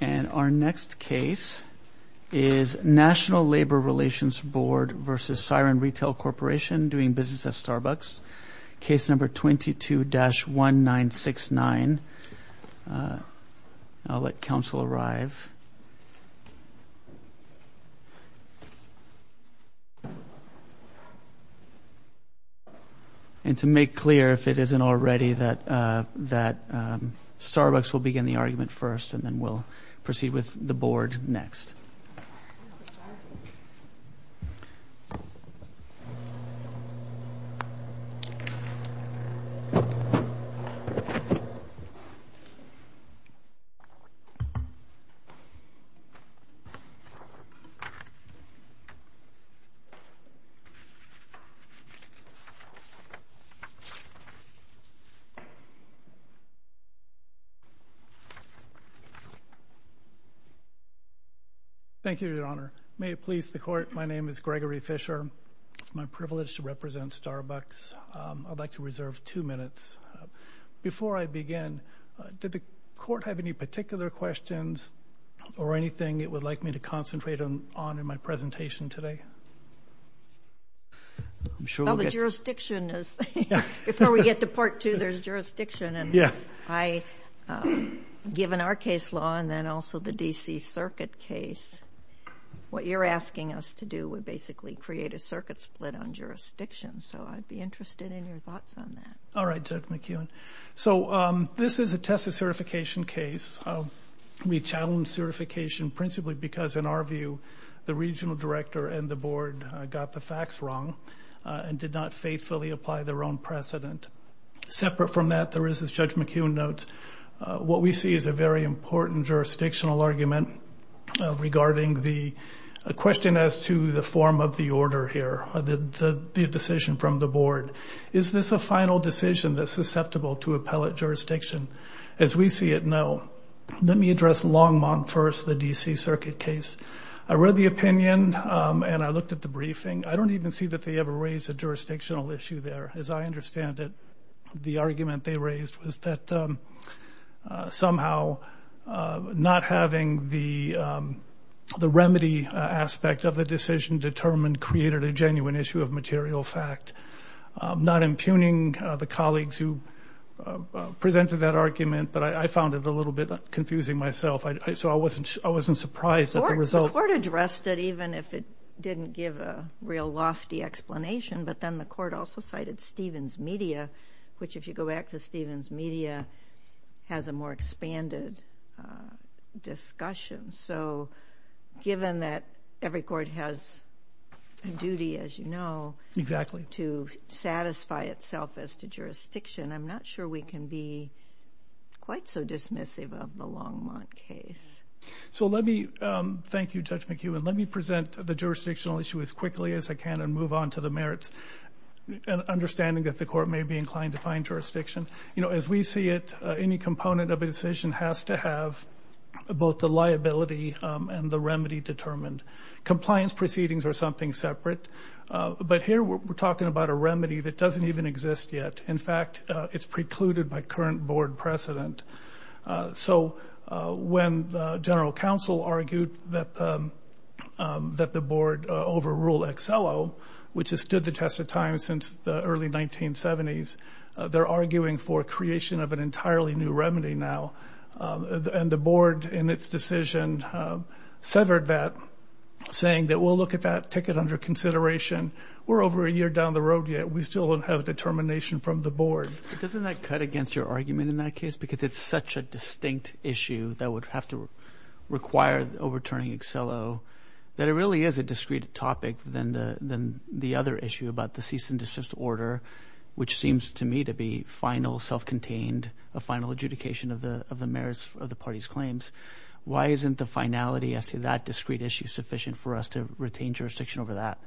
And our next case is National Labor Relations Board v. Siren Retail Corporation doing business at Starbucks. Case number 22-1969. I'll let counsel arrive. And to make clear, if it isn't already, that Starbucks will begin the argument first and then we'll proceed with the board next. I'm sorry. Thank you, Your Honor. May it please the Court, my name is Gregory Fisher. It's my privilege to represent Starbucks. I'd like to reserve two minutes. Before I begin, did the Court have any particular questions or anything it would like me to concentrate on in my presentation today? Before we get to Part 2, there's jurisdiction. Given our case law and then also the D.C. Circuit case, what you're asking us to do would basically create a circuit split on jurisdiction. So I'd be interested in your thoughts on that. All right, Judge McKeown. So this is a test of certification case. We challenge certification principally because, in our view, the regional director and the board got the facts wrong and did not faithfully apply their own precedent. Separate from that, there is, as Judge McKeown notes, what we see is a very important jurisdictional argument regarding the question as to the form of the order here, the decision from the board. Is this a final decision that's susceptible to appellate jurisdiction? As we see it, no. Let me address Longmont first, the D.C. Circuit case. I read the opinion and I looked at the briefing. I don't even see that they ever raised a jurisdictional issue there. As I understand it, the argument they raised was that somehow not having the remedy aspect of the decision determined created a genuine issue of material fact. Not impugning the colleagues who presented that argument, but I found it a little bit confusing myself, so I wasn't surprised at the result. The court addressed it even if it didn't give a real lofty explanation, but then the court also cited Stevens Media, which, if you go back to Stevens Media, has a more expanded discussion. Given that every court has a duty, as you know, to satisfy itself as to jurisdiction, I'm not sure we can be quite so dismissive of the Longmont case. Thank you, Judge McKeown. Let me present the jurisdictional issue as quickly as I can and move on to the merits, understanding that the court may be inclined to find jurisdiction. As we see it, any component of a decision has to have both the liability and the remedy determined. Compliance proceedings are something separate, but here we're talking about a remedy that doesn't even exist yet. In fact, it's precluded by current board precedent. So when the general counsel argued that the board overrule XLO, which has stood the test of time since the early 1970s, they're arguing for creation of an entirely new remedy now. And the board, in its decision, severed that, saying that we'll look at that, take it under consideration. We're over a year down the road yet. We still don't have determination from the board. Doesn't that cut against your argument in that case? Because it's such a distinct issue that would have to require overturning XLO, that it really is a discrete topic than the other issue about the cease and desist order, which seems to me to be final, self-contained, a final adjudication of the merits of the party's claims. Why isn't the finality as to that discrete issue sufficient for us to retain jurisdiction over that?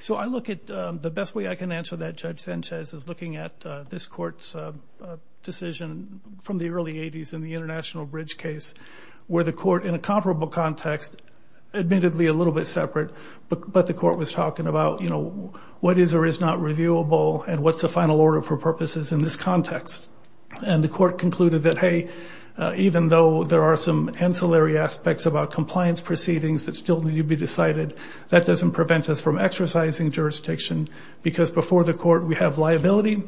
So I look at the best way I can answer that, Judge Sanchez, is looking at this court's decision from the early 80s in the International Bridge case, where the court, in a comparable context, admittedly a little bit separate, but the court was talking about, you know, what is or is not reviewable and what's the final order for purposes in this context? And the court concluded that, hey, even though there are some ancillary aspects about compliance proceedings that still need to be decided, that doesn't prevent us from exercising jurisdiction because before the court we have liability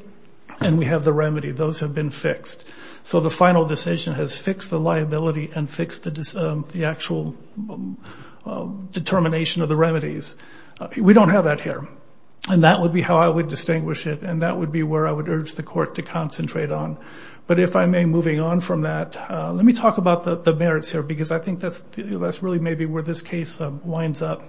and we have the remedy. Those have been fixed. So the final decision has fixed the liability and fixed the actual determination of the remedies. We don't have that here. And that would be how I would distinguish it, and that would be where I would urge the court to concentrate on. But if I may, moving on from that, let me talk about the merits here because I think that's really maybe where this case winds up.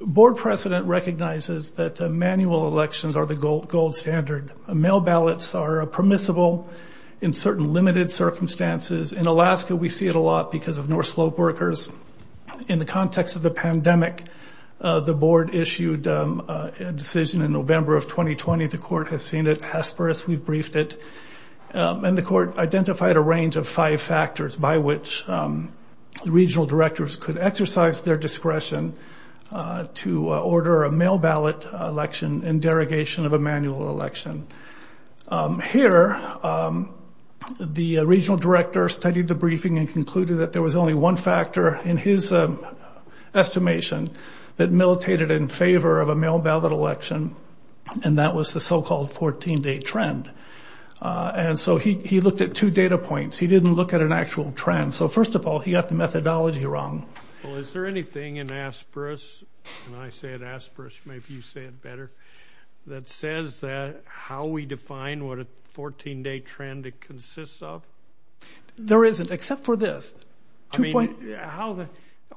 Board precedent recognizes that manual elections are the gold standard. Mail ballots are permissible in certain limited circumstances. In Alaska, we see it a lot because of North Slope workers. In the context of the pandemic, the board issued a decision in November of 2020. The court has seen it. Hesperus, we've briefed it. And the court identified a range of five factors by which the regional directors could exercise their discretion to order a mail ballot election and derogation of a manual election. Here, the regional director studied the briefing and concluded that there was only one factor in his estimation that militated in favor of a mail ballot election, and that was the so-called 14-day trend. And so he looked at two data points. He didn't look at an actual trend. So first of all, he got the methodology wrong. Well, is there anything in Hesperus, and I say it Hesperus, maybe you say it better, that says how we define what a 14-day trend consists of? There isn't except for this.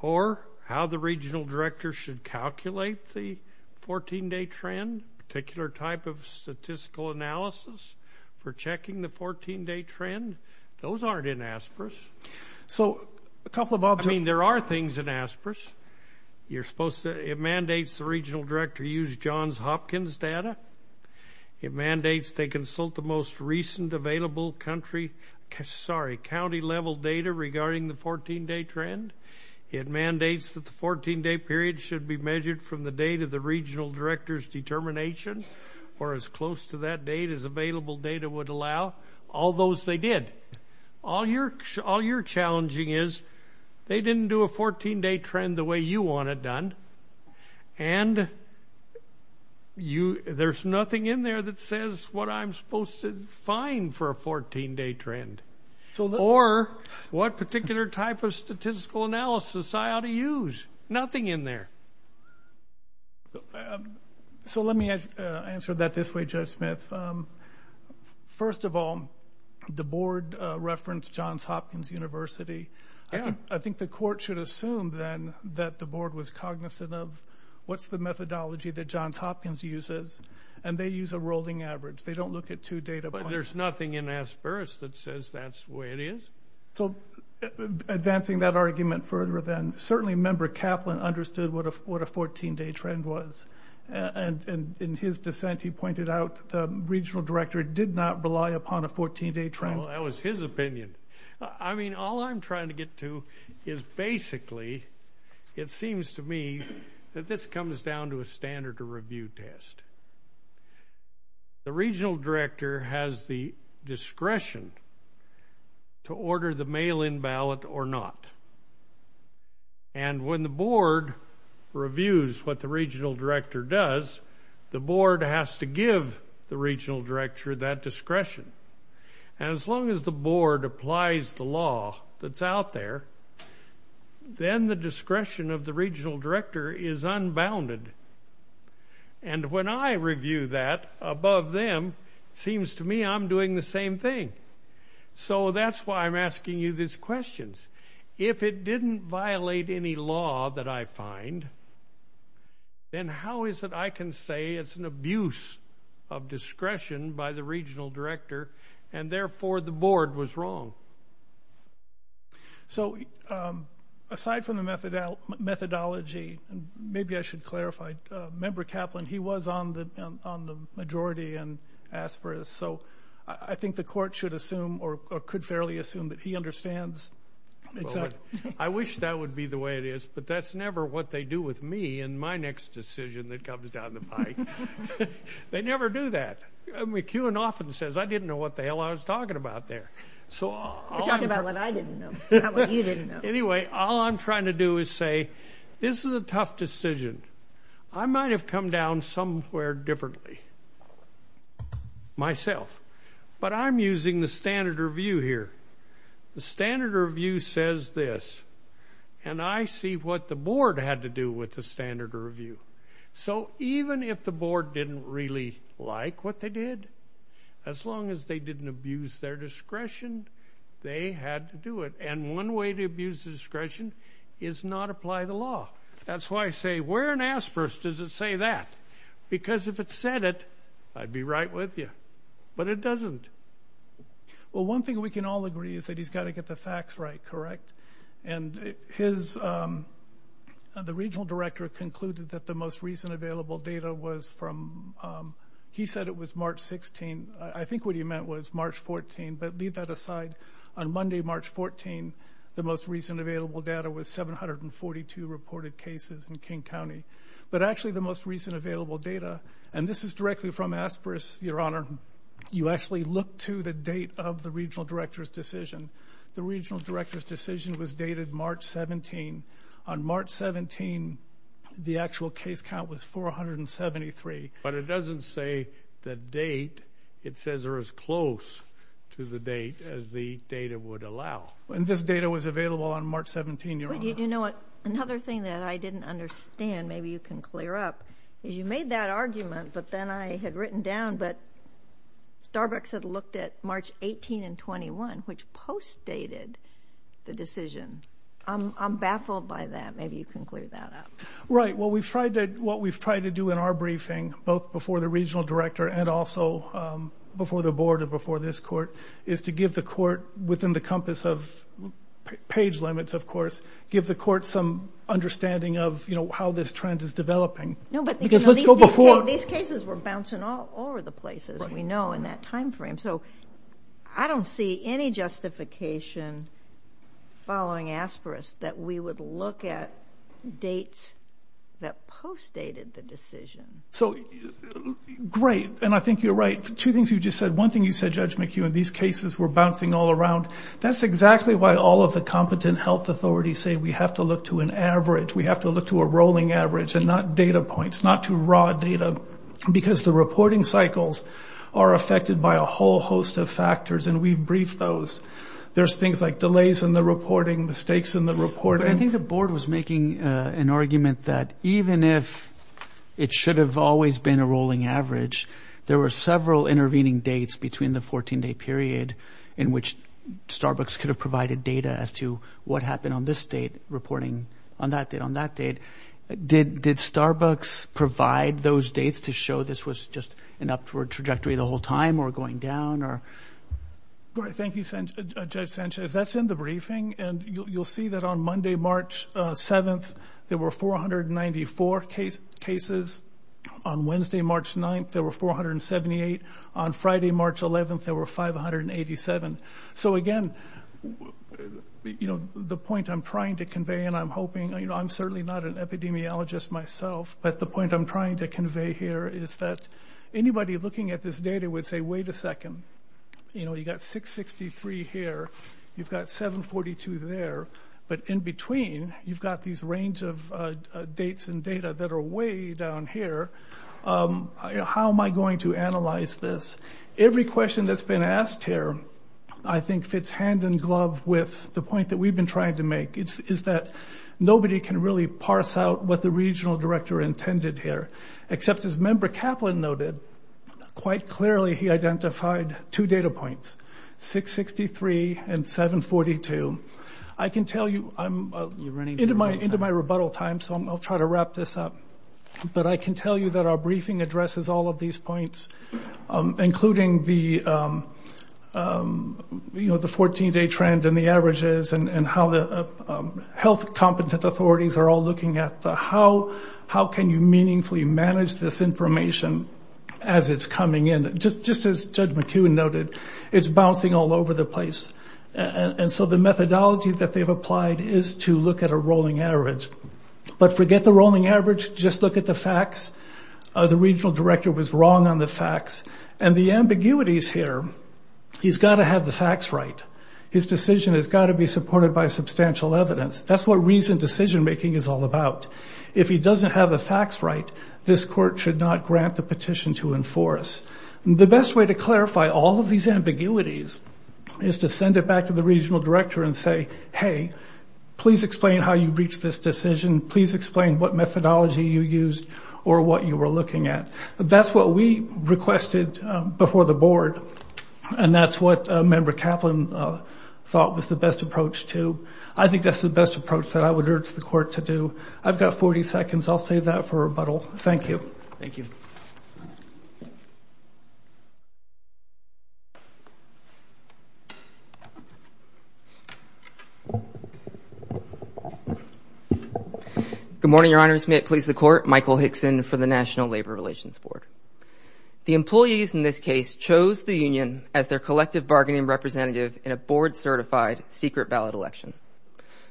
Or how the regional director should calculate the 14-day trend, a particular type of statistical analysis for checking the 14-day trend. Those aren't in Hesperus. So a couple of options. I mean, there are things in Hesperus. It mandates the regional director use Johns Hopkins data. It mandates they consult the most recent available county-level data regarding the 14-day trend. It mandates that the 14-day period should be measured from the date of the regional director's determination or as close to that date as available data would allow. All those they did. All you're challenging is they didn't do a 14-day trend the way you want it done, and there's nothing in there that says what I'm supposed to define for a 14-day trend or what particular type of statistical analysis I ought to use. Nothing in there. So let me answer that this way, Judge Smith. First of all, the board referenced Johns Hopkins University. I think the court should assume then that the board was cognizant of what's the methodology that Johns Hopkins uses, and they use a rolling average. They don't look at two data points. But there's nothing in Hesperus that says that's the way it is. So advancing that argument further then, certainly Member Kaplan understood what a 14-day trend was, and in his dissent he pointed out the regional director did not rely upon a 14-day trend. Well, that was his opinion. I mean, all I'm trying to get to is basically it seems to me that this comes down to a standard of review test. The regional director has the discretion to order the mail-in ballot or not, and when the board reviews what the regional director does, the board has to give the regional director that discretion. And as long as the board applies the law that's out there, then the discretion of the regional director is unbounded. And when I review that above them, it seems to me I'm doing the same thing. So that's why I'm asking you these questions. If it didn't violate any law that I find, then how is it I can say it's an abuse of discretion by the regional director and therefore the board was wrong? So aside from the methodology, maybe I should clarify, Member Kaplan, he was on the majority in Hesperus. So I think the court should assume or could fairly assume that he understands. I wish that would be the way it is, but that's never what they do with me in my next decision that comes down the pike. They never do that. McEwen often says, I didn't know what the hell I was talking about there. You're talking about what I didn't know, not what you didn't know. Anyway, all I'm trying to do is say this is a tough decision. I might have come down somewhere differently myself, but I'm using the standard review here. The standard review says this, and I see what the board had to do with the standard review. So even if the board didn't really like what they did, as long as they didn't abuse their discretion, they had to do it. And one way to abuse discretion is not apply the law. That's why I say, where in Hesperus does it say that? Because if it said it, I'd be right with you. But it doesn't. Well, one thing we can all agree is that he's got to get the facts right, correct? And the regional director concluded that the most recent available data was from he said it was March 16. I think what he meant was March 14, but leave that aside. On Monday, March 14, the most recent available data was 742 reported cases in King County. But actually, the most recent available data, and this is directly from Hesperus, Your Honor, you actually look to the date of the regional director's decision. The regional director's decision was dated March 17. On March 17, the actual case count was 473. But it doesn't say the date. It says they're as close to the date as the data would allow. And this data was available on March 17, Your Honor. You know what? Another thing that I didn't understand, maybe you can clear up, is you made that argument, but then I had written down that Starbucks had looked at March 18 and 21, which post-dated the decision. I'm baffled by that. Maybe you can clear that up. Right. Well, what we've tried to do in our briefing, both before the regional director and also before the board and before this court, is to give the court within the compass of page limits, of course, give the court some understanding of how this trend is developing. Because let's go before. These cases were bouncing all over the place, as we know, in that time frame. So I don't see any justification following asperis that we would look at dates that post-dated the decision. So great. And I think you're right. Two things you just said. One thing you said, Judge McHugh, in these cases were bouncing all around. That's exactly why all of the competent health authorities say we have to look to an average, we have to look to a rolling average and not data points, not to raw data, because the reporting cycles are affected by a whole host of factors, and we've briefed those. There's things like delays in the reporting, mistakes in the reporting. I think the board was making an argument that even if it should have always been a rolling average, there were several intervening dates between the 14-day period in which Starbucks could have provided data as to what happened on this date, reporting on that date, on that date. Did Starbucks provide those dates to show this was just an upward trajectory the whole time or going down? Thank you, Judge Sanchez. That's in the briefing, and you'll see that on Monday, March 7th, there were 494 cases. On Wednesday, March 9th, there were 478. On Friday, March 11th, there were 587. So, again, you know, the point I'm trying to convey, and I'm hoping, you know, I'm certainly not an epidemiologist myself, but the point I'm trying to convey here is that anybody looking at this data would say, wait a second, you know, you've got 663 here, you've got 742 there, but in between you've got these range of dates and data that are way down here. How am I going to analyze this? Every question that's been asked here I think fits hand in glove with the point that we've been trying to make, is that nobody can really parse out what the regional director intended here, except as Member Kaplan noted, quite clearly he identified two data points, 663 and 742. I can tell you I'm into my rebuttal time, so I'll try to wrap this up, but I can tell you that our briefing addresses all of these points, including the 14-day trend and the averages and how the health competent authorities are all looking at how can you meaningfully manage this information as it's coming in. Just as Judge McEwen noted, it's bouncing all over the place, and so the methodology that they've applied is to look at a rolling average, but forget the rolling average, just look at the facts. The regional director was wrong on the facts, and the ambiguities here, he's got to have the facts right. His decision has got to be supported by substantial evidence. That's what reasoned decision-making is all about. If he doesn't have the facts right, this court should not grant the petition to enforce. The best way to clarify all of these ambiguities is to send it back to the regional director and say, hey, please explain how you reached this decision. Please explain what methodology you used or what you were looking at. That's what we requested before the board, and that's what Member Kaplan thought was the best approach to. I think that's the best approach that I would urge the court to do. I've got 40 seconds. I'll save that for rebuttal. Thank you. Thank you. Good morning, Your Honors. May it please the Court. Michael Hickson for the National Labor Relations Board. The employees in this case chose the union as their collective bargaining representative in a board-certified secret ballot election.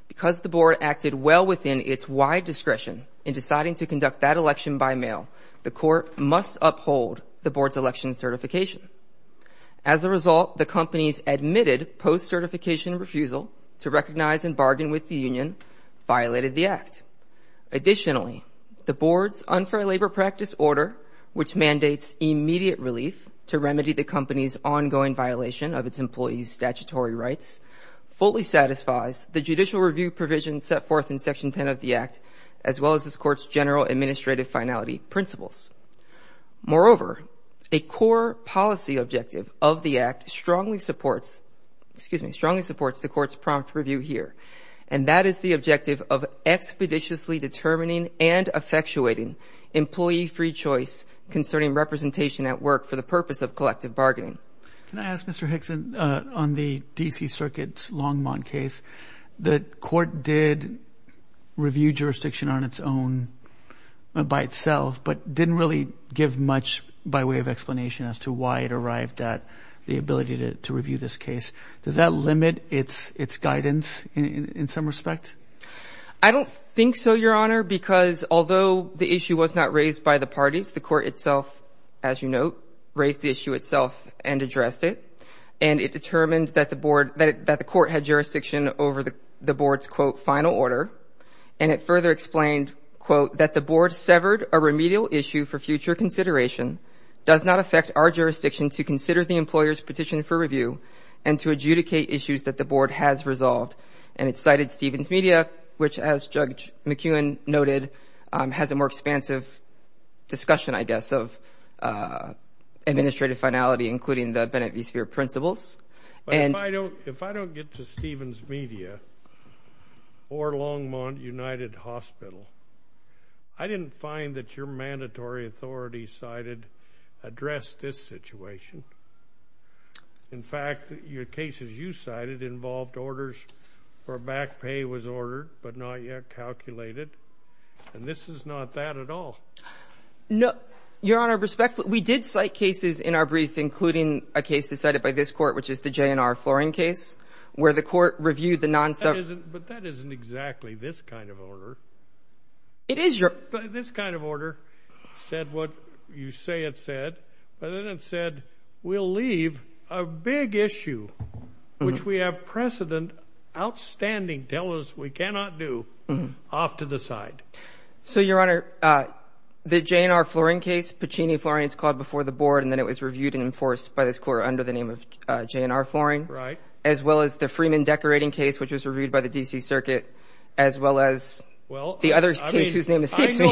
Because the board acted well within its wide discretion in deciding to conduct that election by mail, the court must uphold the board's election certification. As a result, the company's admitted post-certification refusal to recognize and bargain with the union violated the act. Additionally, the board's unfair labor practice order, which mandates immediate relief to remedy the company's ongoing violation of its employees' statutory rights, fully satisfies the judicial review provisions set forth in Section 10 of the act, as well as this court's general administrative finality principles. Moreover, a core policy objective of the act strongly supports the court's prompt review here, and that is the objective of expeditiously determining and effectuating employee-free choice concerning representation at work for the purpose of collective bargaining. Can I ask, Mr. Hickson, on the D.C. Circuit's Longmont case, the court did review jurisdiction on its own by itself, but didn't really give much by way of explanation as to why it arrived at the ability to review this case. Does that limit its guidance in some respects? I don't think so, Your Honor, because although the issue was not raised by the parties, the court itself, as you note, raised the issue itself and addressed it, and it determined that the court had jurisdiction over the board's, quote, final order, and it further explained, quote, that the board severed a remedial issue for future consideration, does not affect our jurisdiction to consider the employer's petition for review, and to adjudicate issues that the board has resolved. And it cited Stevens Media, which, as Judge McEwen noted, has a more expansive discussion, I guess, of administrative finality, including the Bennett v. Speer principles. If I don't get to Stevens Media or Longmont United Hospital, I didn't find that your mandatory authority cited addressed this situation. In fact, your cases you cited involved orders where back pay was ordered but not yet calculated, and this is not that at all. No, Your Honor, respectfully, we did cite cases in our brief, including a case decided by this court, which is the J&R flooring case, where the court reviewed the non-server. But that isn't exactly this kind of order. It is, Your Honor. This kind of order said what you say it said, but then it said we'll leave a big issue, which we have precedent outstanding, tell us we cannot do, off to the side. So, Your Honor, the J&R flooring case, Pacini flooring, it's called before the board, and then it was reviewed and enforced by this court under the name of J&R flooring. Right. As well as the Freeman decorating case, which was reviewed by the D.C. Circuit, as well as the other case whose name escapes me.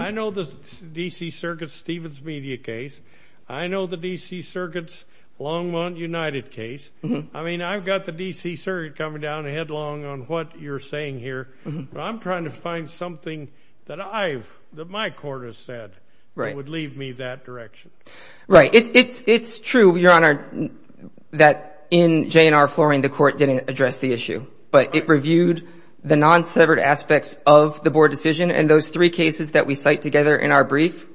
I know the D.C. Circuit's Stevens Media case. I know the D.C. Circuit's Longmont United case. I mean, I've got the D.C. Circuit coming down headlong on what you're saying here, but I'm trying to find something that my court has said that would lead me that direction. Right. It's true, Your Honor, that in J&R flooring the court didn't address the issue, but it reviewed the non-severed aspects of the board decision, and those three cases that we cite together in our brief,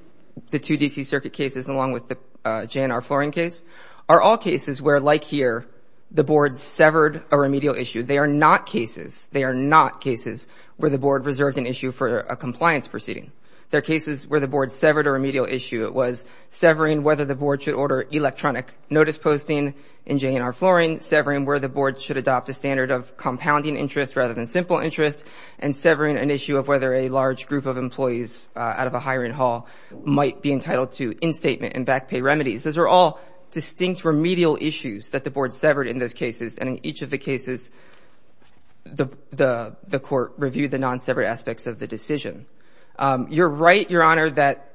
the two D.C. Circuit cases along with the J&R flooring case, are all cases where, like here, the board severed a remedial issue. They are not cases. They are not cases where the board reserved an issue for a compliance proceeding. They're cases where the board severed a remedial issue. It was severing whether the board should order electronic notice posting in J&R flooring, severing where the board should adopt a standard of compounding interest rather than simple interest, and severing an issue of whether a large group of employees out of a hiring hall might be entitled to instatement and back pay remedies. Those are all distinct remedial issues that the board severed in those cases, and in each of the cases the court reviewed the non-severed aspects of the decision. You're right, Your Honor, that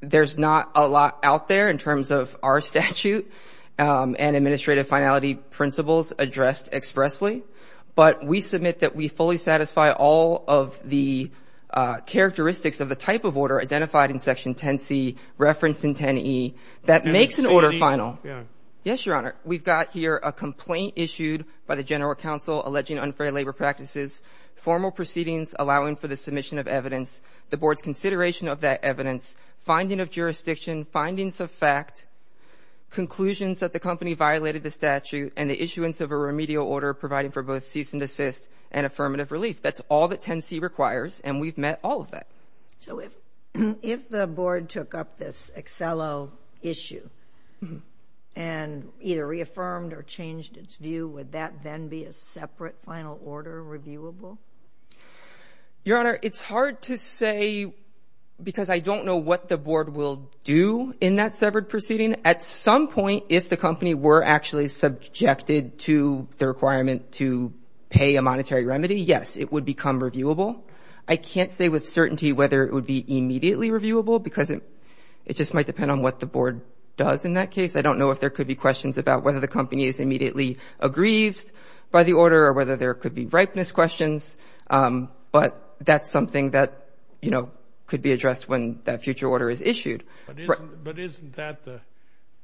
there's not a lot out there in terms of our statute and administrative finality principles addressed expressly, but we submit that we fully satisfy all of the characteristics of the type of order identified in Section 10C, referenced in 10E, that makes an order final. Yes, Your Honor. We've got here a complaint issued by the general counsel alleging unfair labor practices, formal proceedings allowing for the submission of evidence, the board's consideration of that evidence, finding of jurisdiction, findings of fact, conclusions that the company violated the statute, and the issuance of a remedial order providing for both cease and desist and affirmative relief. That's all that 10C requires, and we've met all of that. So if the board took up this Accelo issue and either reaffirmed or changed its view, would that then be a separate final order reviewable? Your Honor, it's hard to say because I don't know what the board will do in that severed proceeding. At some point, if the company were actually subjected to the requirement to pay a monetary remedy, yes, it would become reviewable. I can't say with certainty whether it would be immediately reviewable because it just might depend on what the board does in that case. I don't know if there could be questions about whether the company is immediately aggrieved by the order or whether there could be ripeness questions, but that's something that could be addressed when that future order is issued. But isn't that the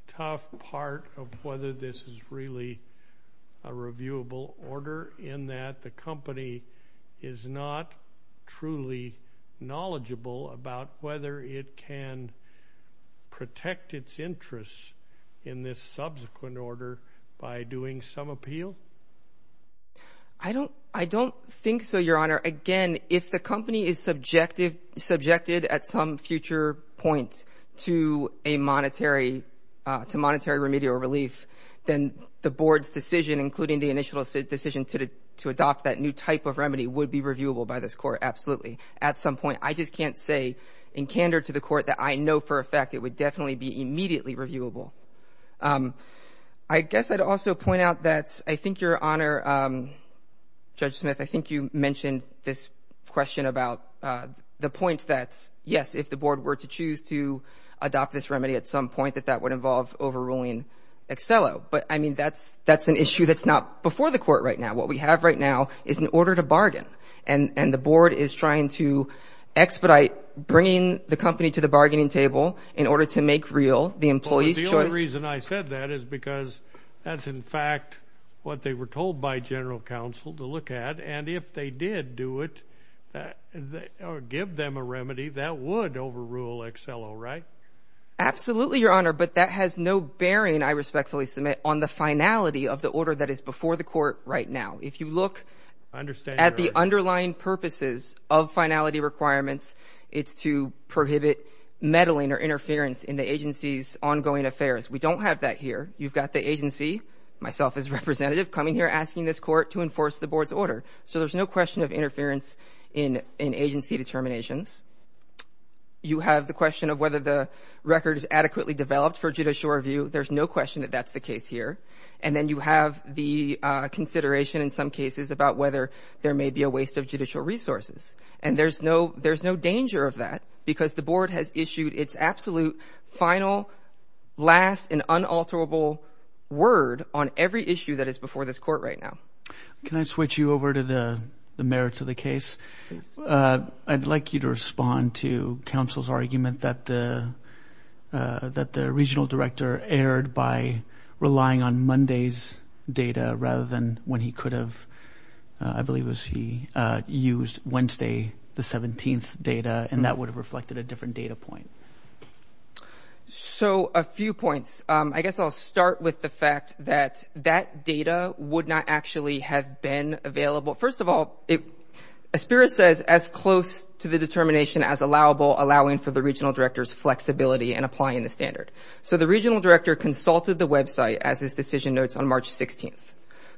tough part of whether this is really a reviewable order in that the company is not truly knowledgeable about whether it can protect its interests in this subsequent order by doing some appeal? I don't think so, Your Honor. Again, if the company is subjected at some future point to monetary remedial relief, then the board's decision, including the initial decision to adopt that new type of remedy, would be reviewable by this Court, absolutely. At some point. I just can't say in candor to the Court that I know for a fact it would definitely be immediately reviewable. I guess I'd also point out that I think, Your Honor, Judge Smith, I think you mentioned this question about the point that, yes, if the board were to choose to adopt this remedy at some point, that that would involve overruling Excello. But, I mean, that's an issue that's not before the Court right now. What we have right now is an order to bargain, and the board is trying to expedite bringing the company to the bargaining table in order to make real the employee's choice. The only reason I said that is because that's, in fact, what they were told by General Counsel to look at, and if they did do it or give them a remedy, that would overrule Excello, right? Absolutely, Your Honor, but that has no bearing, I respectfully submit, on the finality of the order that is before the Court right now. If you look at the underlying purposes of finality requirements, it's to prohibit meddling or interference in the agency's ongoing affairs. We don't have that here. You've got the agency, myself as a representative, coming here asking this Court to enforce the board's order. So there's no question of interference in agency determinations. You have the question of whether the record is adequately developed for judicial review. There's no question that that's the case here. And then you have the consideration in some cases about whether there may be a waste of judicial resources. And there's no danger of that because the board has issued its absolute final, last, and unalterable word on every issue that is before this Court right now. Can I switch you over to the merits of the case? Yes. I'd like you to respond to counsel's argument that the regional director erred by relying on Monday's data rather than when he could have, I believe it was he used Wednesday, the 17th data, and that would have reflected a different data point. So a few points. I guess I'll start with the fact that that data would not actually have been available. First of all, ASPIRA says as close to the determination as allowable, allowing for the regional director's flexibility in applying the standard. So the regional director consulted the website as his decision notes on March 16th.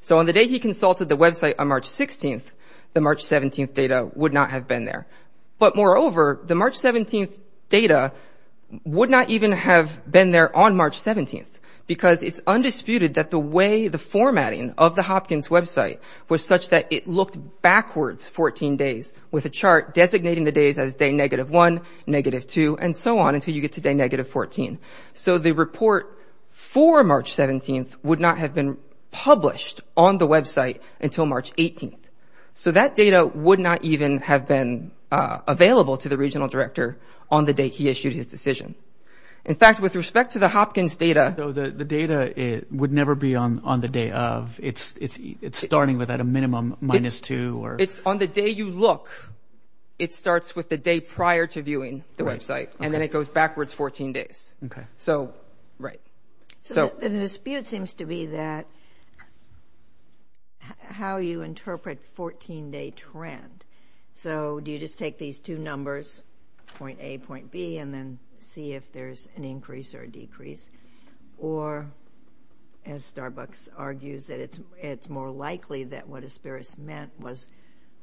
So on the day he consulted the website on March 16th, the March 17th data would not have been there. But moreover, the March 17th data would not even have been there on March 17th because it's undisputed that the way the formatting of the Hopkins website was such that it looked backwards 14 days with a chart designating the days as day negative 1, negative 2, and so on until you get to day negative 14. So the report for March 17th would not have been published on the website until March 18th. So that data would not even have been available to the regional director on the date he issued his decision. In fact, with respect to the Hopkins data. So the data would never be on the day of. It's starting with at a minimum minus 2. It's on the day you look. It starts with the day prior to viewing the website, and then it goes backwards 14 days. Okay. So, right. So the dispute seems to be that how you interpret 14-day trend. So do you just take these two numbers, point A, point B, and then see if there's an increase or a decrease? Or, as Starbucks argues, it's more likely that what Asperis meant was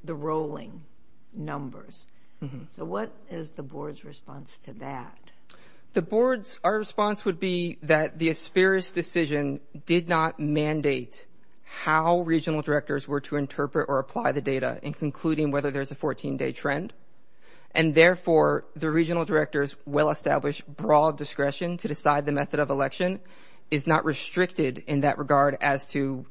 the rolling numbers. So what is the board's response to that? Our response would be that the Asperis decision did not mandate how regional directors were to interpret or apply the data in concluding whether there's a 14-day trend, and therefore the regional director's well-established broad discretion to decide the method of election is not restricted in that regard as to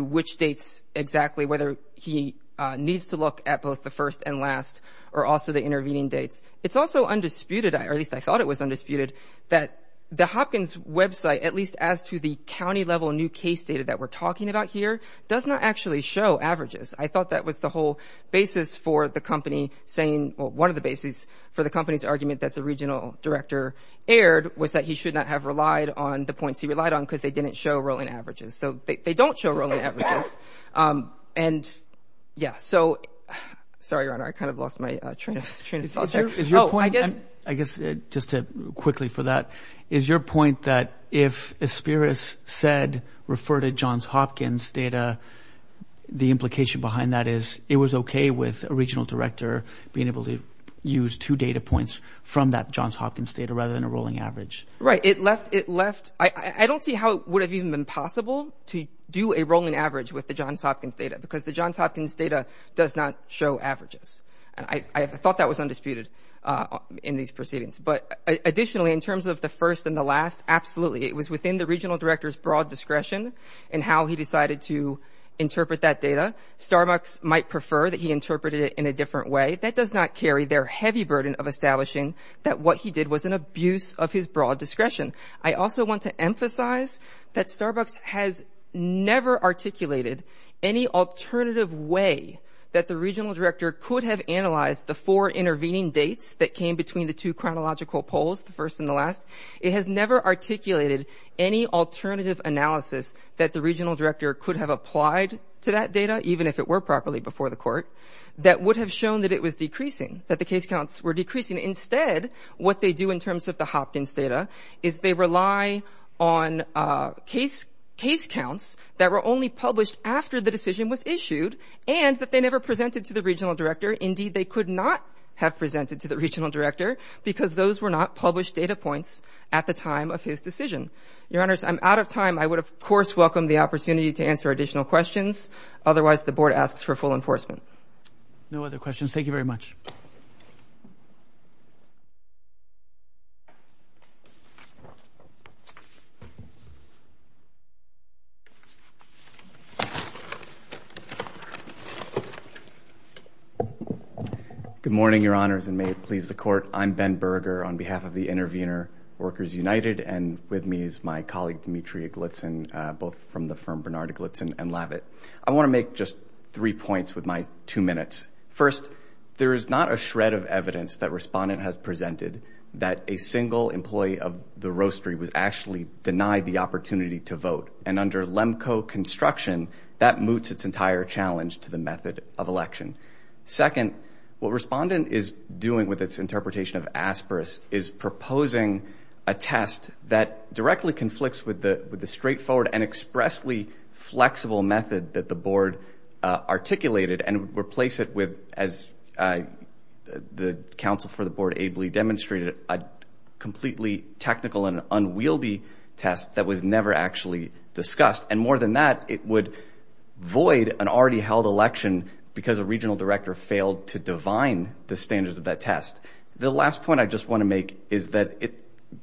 which dates exactly, whether he needs to look at both the first and last or also the intervening dates. It's also undisputed, or at least I thought it was undisputed, that the Hopkins website, at least as to the county-level new case data that we're talking about here, does not actually show averages. I thought that was the whole basis for the company saying, well, one of the bases for the company's argument that the regional director erred was that he should not have relied on the points he relied on because they didn't show rolling averages. So they don't show rolling averages. And, yeah, so, sorry, Your Honor, I kind of lost my train of thought there. Oh, I guess just quickly for that, is your point that if Asperis said refer to Johns Hopkins data, the implication behind that is it was okay with a regional director being able to use two data points from that Johns Hopkins data rather than a rolling average. Right. It left, I don't see how it would have even been possible to do a rolling average with the Johns Hopkins data because the Johns Hopkins data does not show averages. And I thought that was undisputed in these proceedings. It was within the regional director's broad discretion in how he decided to interpret that data. Starbucks might prefer that he interpreted it in a different way. That does not carry their heavy burden of establishing that what he did was an abuse of his broad discretion. I also want to emphasize that Starbucks has never articulated any alternative way that the regional director could have analyzed the four intervening dates that came between the two chronological polls, the first and the last. It has never articulated any alternative analysis that the regional director could have applied to that data, even if it were properly before the court, that would have shown that it was decreasing, that the case counts were decreasing. Instead, what they do in terms of the Hopkins data is they rely on case counts that were only published after the decision was issued and that they never presented to the regional director. Indeed, they could not have presented to the regional director because those were not published data points at the time of his decision. Your Honors, I'm out of time. I would, of course, welcome the opportunity to answer additional questions. Otherwise, the board asks for full enforcement. No other questions. Thank you very much. Good morning, Your Honors, and may it please the court. I'm Ben Berger on behalf of the Intervenor Workers United, and with me is my colleague, Demetria Glitzen, both from the firm Bernard Glitzen and Lavit. I want to make just three points with my two minutes. First, there is not a shred of evidence that Respondent has presented that a single employee of the roastery was actually denied the opportunity to vote, and under LEMCO construction, that moots its entire challenge to the method of election. Second, what Respondent is doing with its interpretation of ASPRAS is proposing a test that directly conflicts with the straightforward and expressly flexible method that the board articulated and would replace it with, as the counsel for the board ably demonstrated, a completely technical and unwieldy test that was never actually discussed. And more than that, it would void an already held election because a regional director failed to divine the standards of that test. The last point I just want to make is that it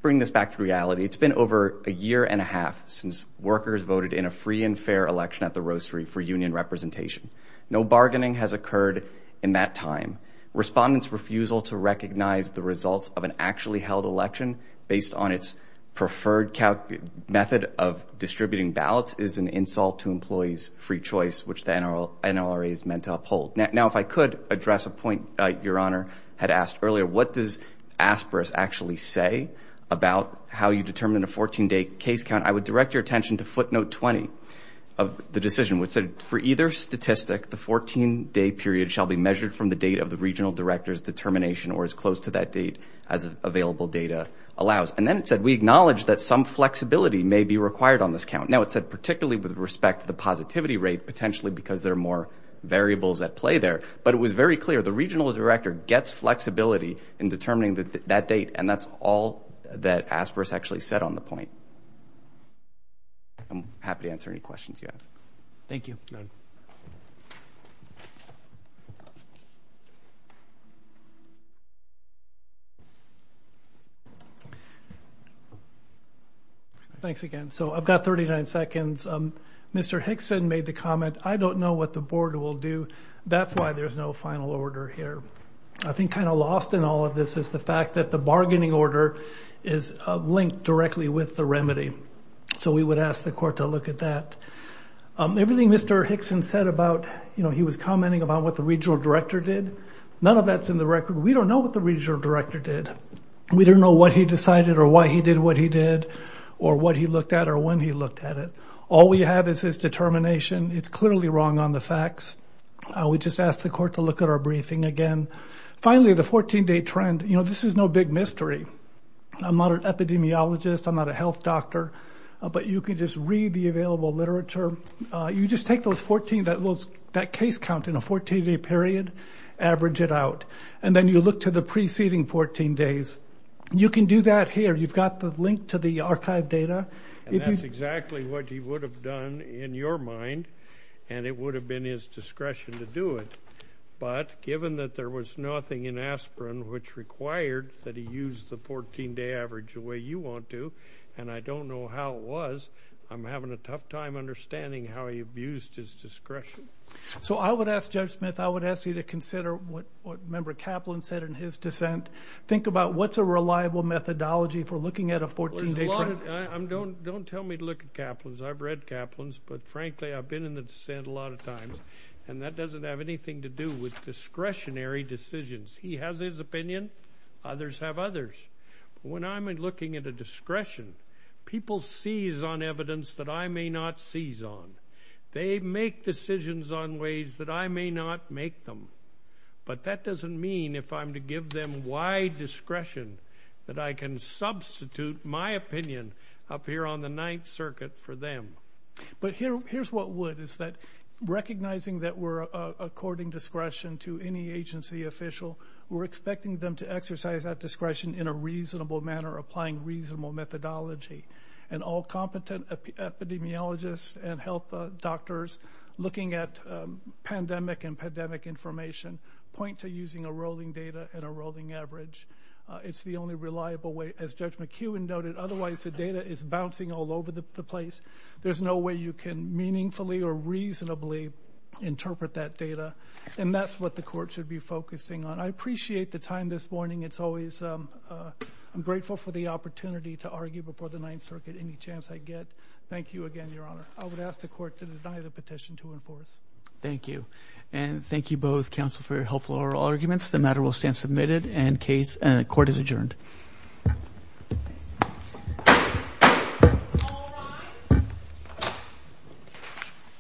brings us back to reality. It's been over a year and a half since workers voted in a free and fair election at the roastery for union representation. No bargaining has occurred in that time. Respondent's refusal to recognize the results of an actually held election based on its preferred method of distributing ballots is an insult to employees' free choice, which the NLRA is meant to uphold. Now, if I could address a point Your Honor had asked earlier, what does ASPRAS actually say about how you determine a 14-day case count, I would direct your attention to footnote 20 of the decision, which said, for either statistic, the 14-day period shall be measured from the date of the regional director's determination or as close to that date as available data allows. And then it said, we acknowledge that some flexibility may be required on this count. Now, it said particularly with respect to the positivity rate, potentially because there are more variables at play there. But it was very clear, the regional director gets flexibility in determining that date, and that's all that ASPRAS actually said on the point. I'm happy to answer any questions you have. Thank you. Thanks again. So I've got 39 seconds. Mr. Hickson made the comment, I don't know what the board will do. That's why there's no final order here. I think kind of lost in all of this is the fact that the bargaining order is linked directly with the remedy. So we would ask the court to look at that. Everything Mr. Hickson said about, you know, he was commenting about what the regional director did, none of that's in the record. We don't know what the regional director did. We don't know what he decided or why he did what he did or what he looked at or when he looked at it. All we have is his determination. It's clearly wrong on the facts. We just ask the court to look at our briefing again. Finally, the 14-day trend, you know, this is no big mystery. I'm not an epidemiologist. I'm not a health doctor. But you can just read the available literature. You just take that case count in a 14-day period, average it out, and then you look to the preceding 14 days. You can do that here. You've got the link to the archive data. And that's exactly what he would have done in your mind, and it would have been his discretion to do it. But given that there was nothing in aspirin which required that he use the 14-day average the way you want to, and I don't know how it was, I'm having a tough time understanding how he abused his discretion. So I would ask, Judge Smith, I would ask you to consider what Member Kaplan said in his dissent. Think about what's a reliable methodology for looking at a 14-day trend. Don't tell me to look at Kaplan's. I've read Kaplan's, but, frankly, I've been in the dissent a lot of times, and that doesn't have anything to do with discretionary decisions. He has his opinion. Others have others. When I'm looking at a discretion, people seize on evidence that I may not seize on. They make decisions on ways that I may not make them. But that doesn't mean if I'm to give them wide discretion that I can substitute my opinion up here on the Ninth Circuit for them. But here's what would, is that recognizing that we're according discretion to any agency official, we're expecting them to exercise that discretion in a reasonable manner, applying reasonable methodology. And all competent epidemiologists and health doctors looking at pandemic and pandemic information point to using a rolling data and a rolling average. It's the only reliable way, as Judge McEwen noted. Otherwise, the data is bouncing all over the place. There's no way you can meaningfully or reasonably interpret that data, and that's what the Court should be focusing on. I appreciate the time this morning. It's always, I'm grateful for the opportunity to argue before the Ninth Circuit any chance I get. Thank you again, Your Honor. I would ask the Court to deny the petition to enforce. Thank you. And thank you both, counsel, for your helpful oral arguments. The matter will stand submitted, and the Court is adjourned. All rise.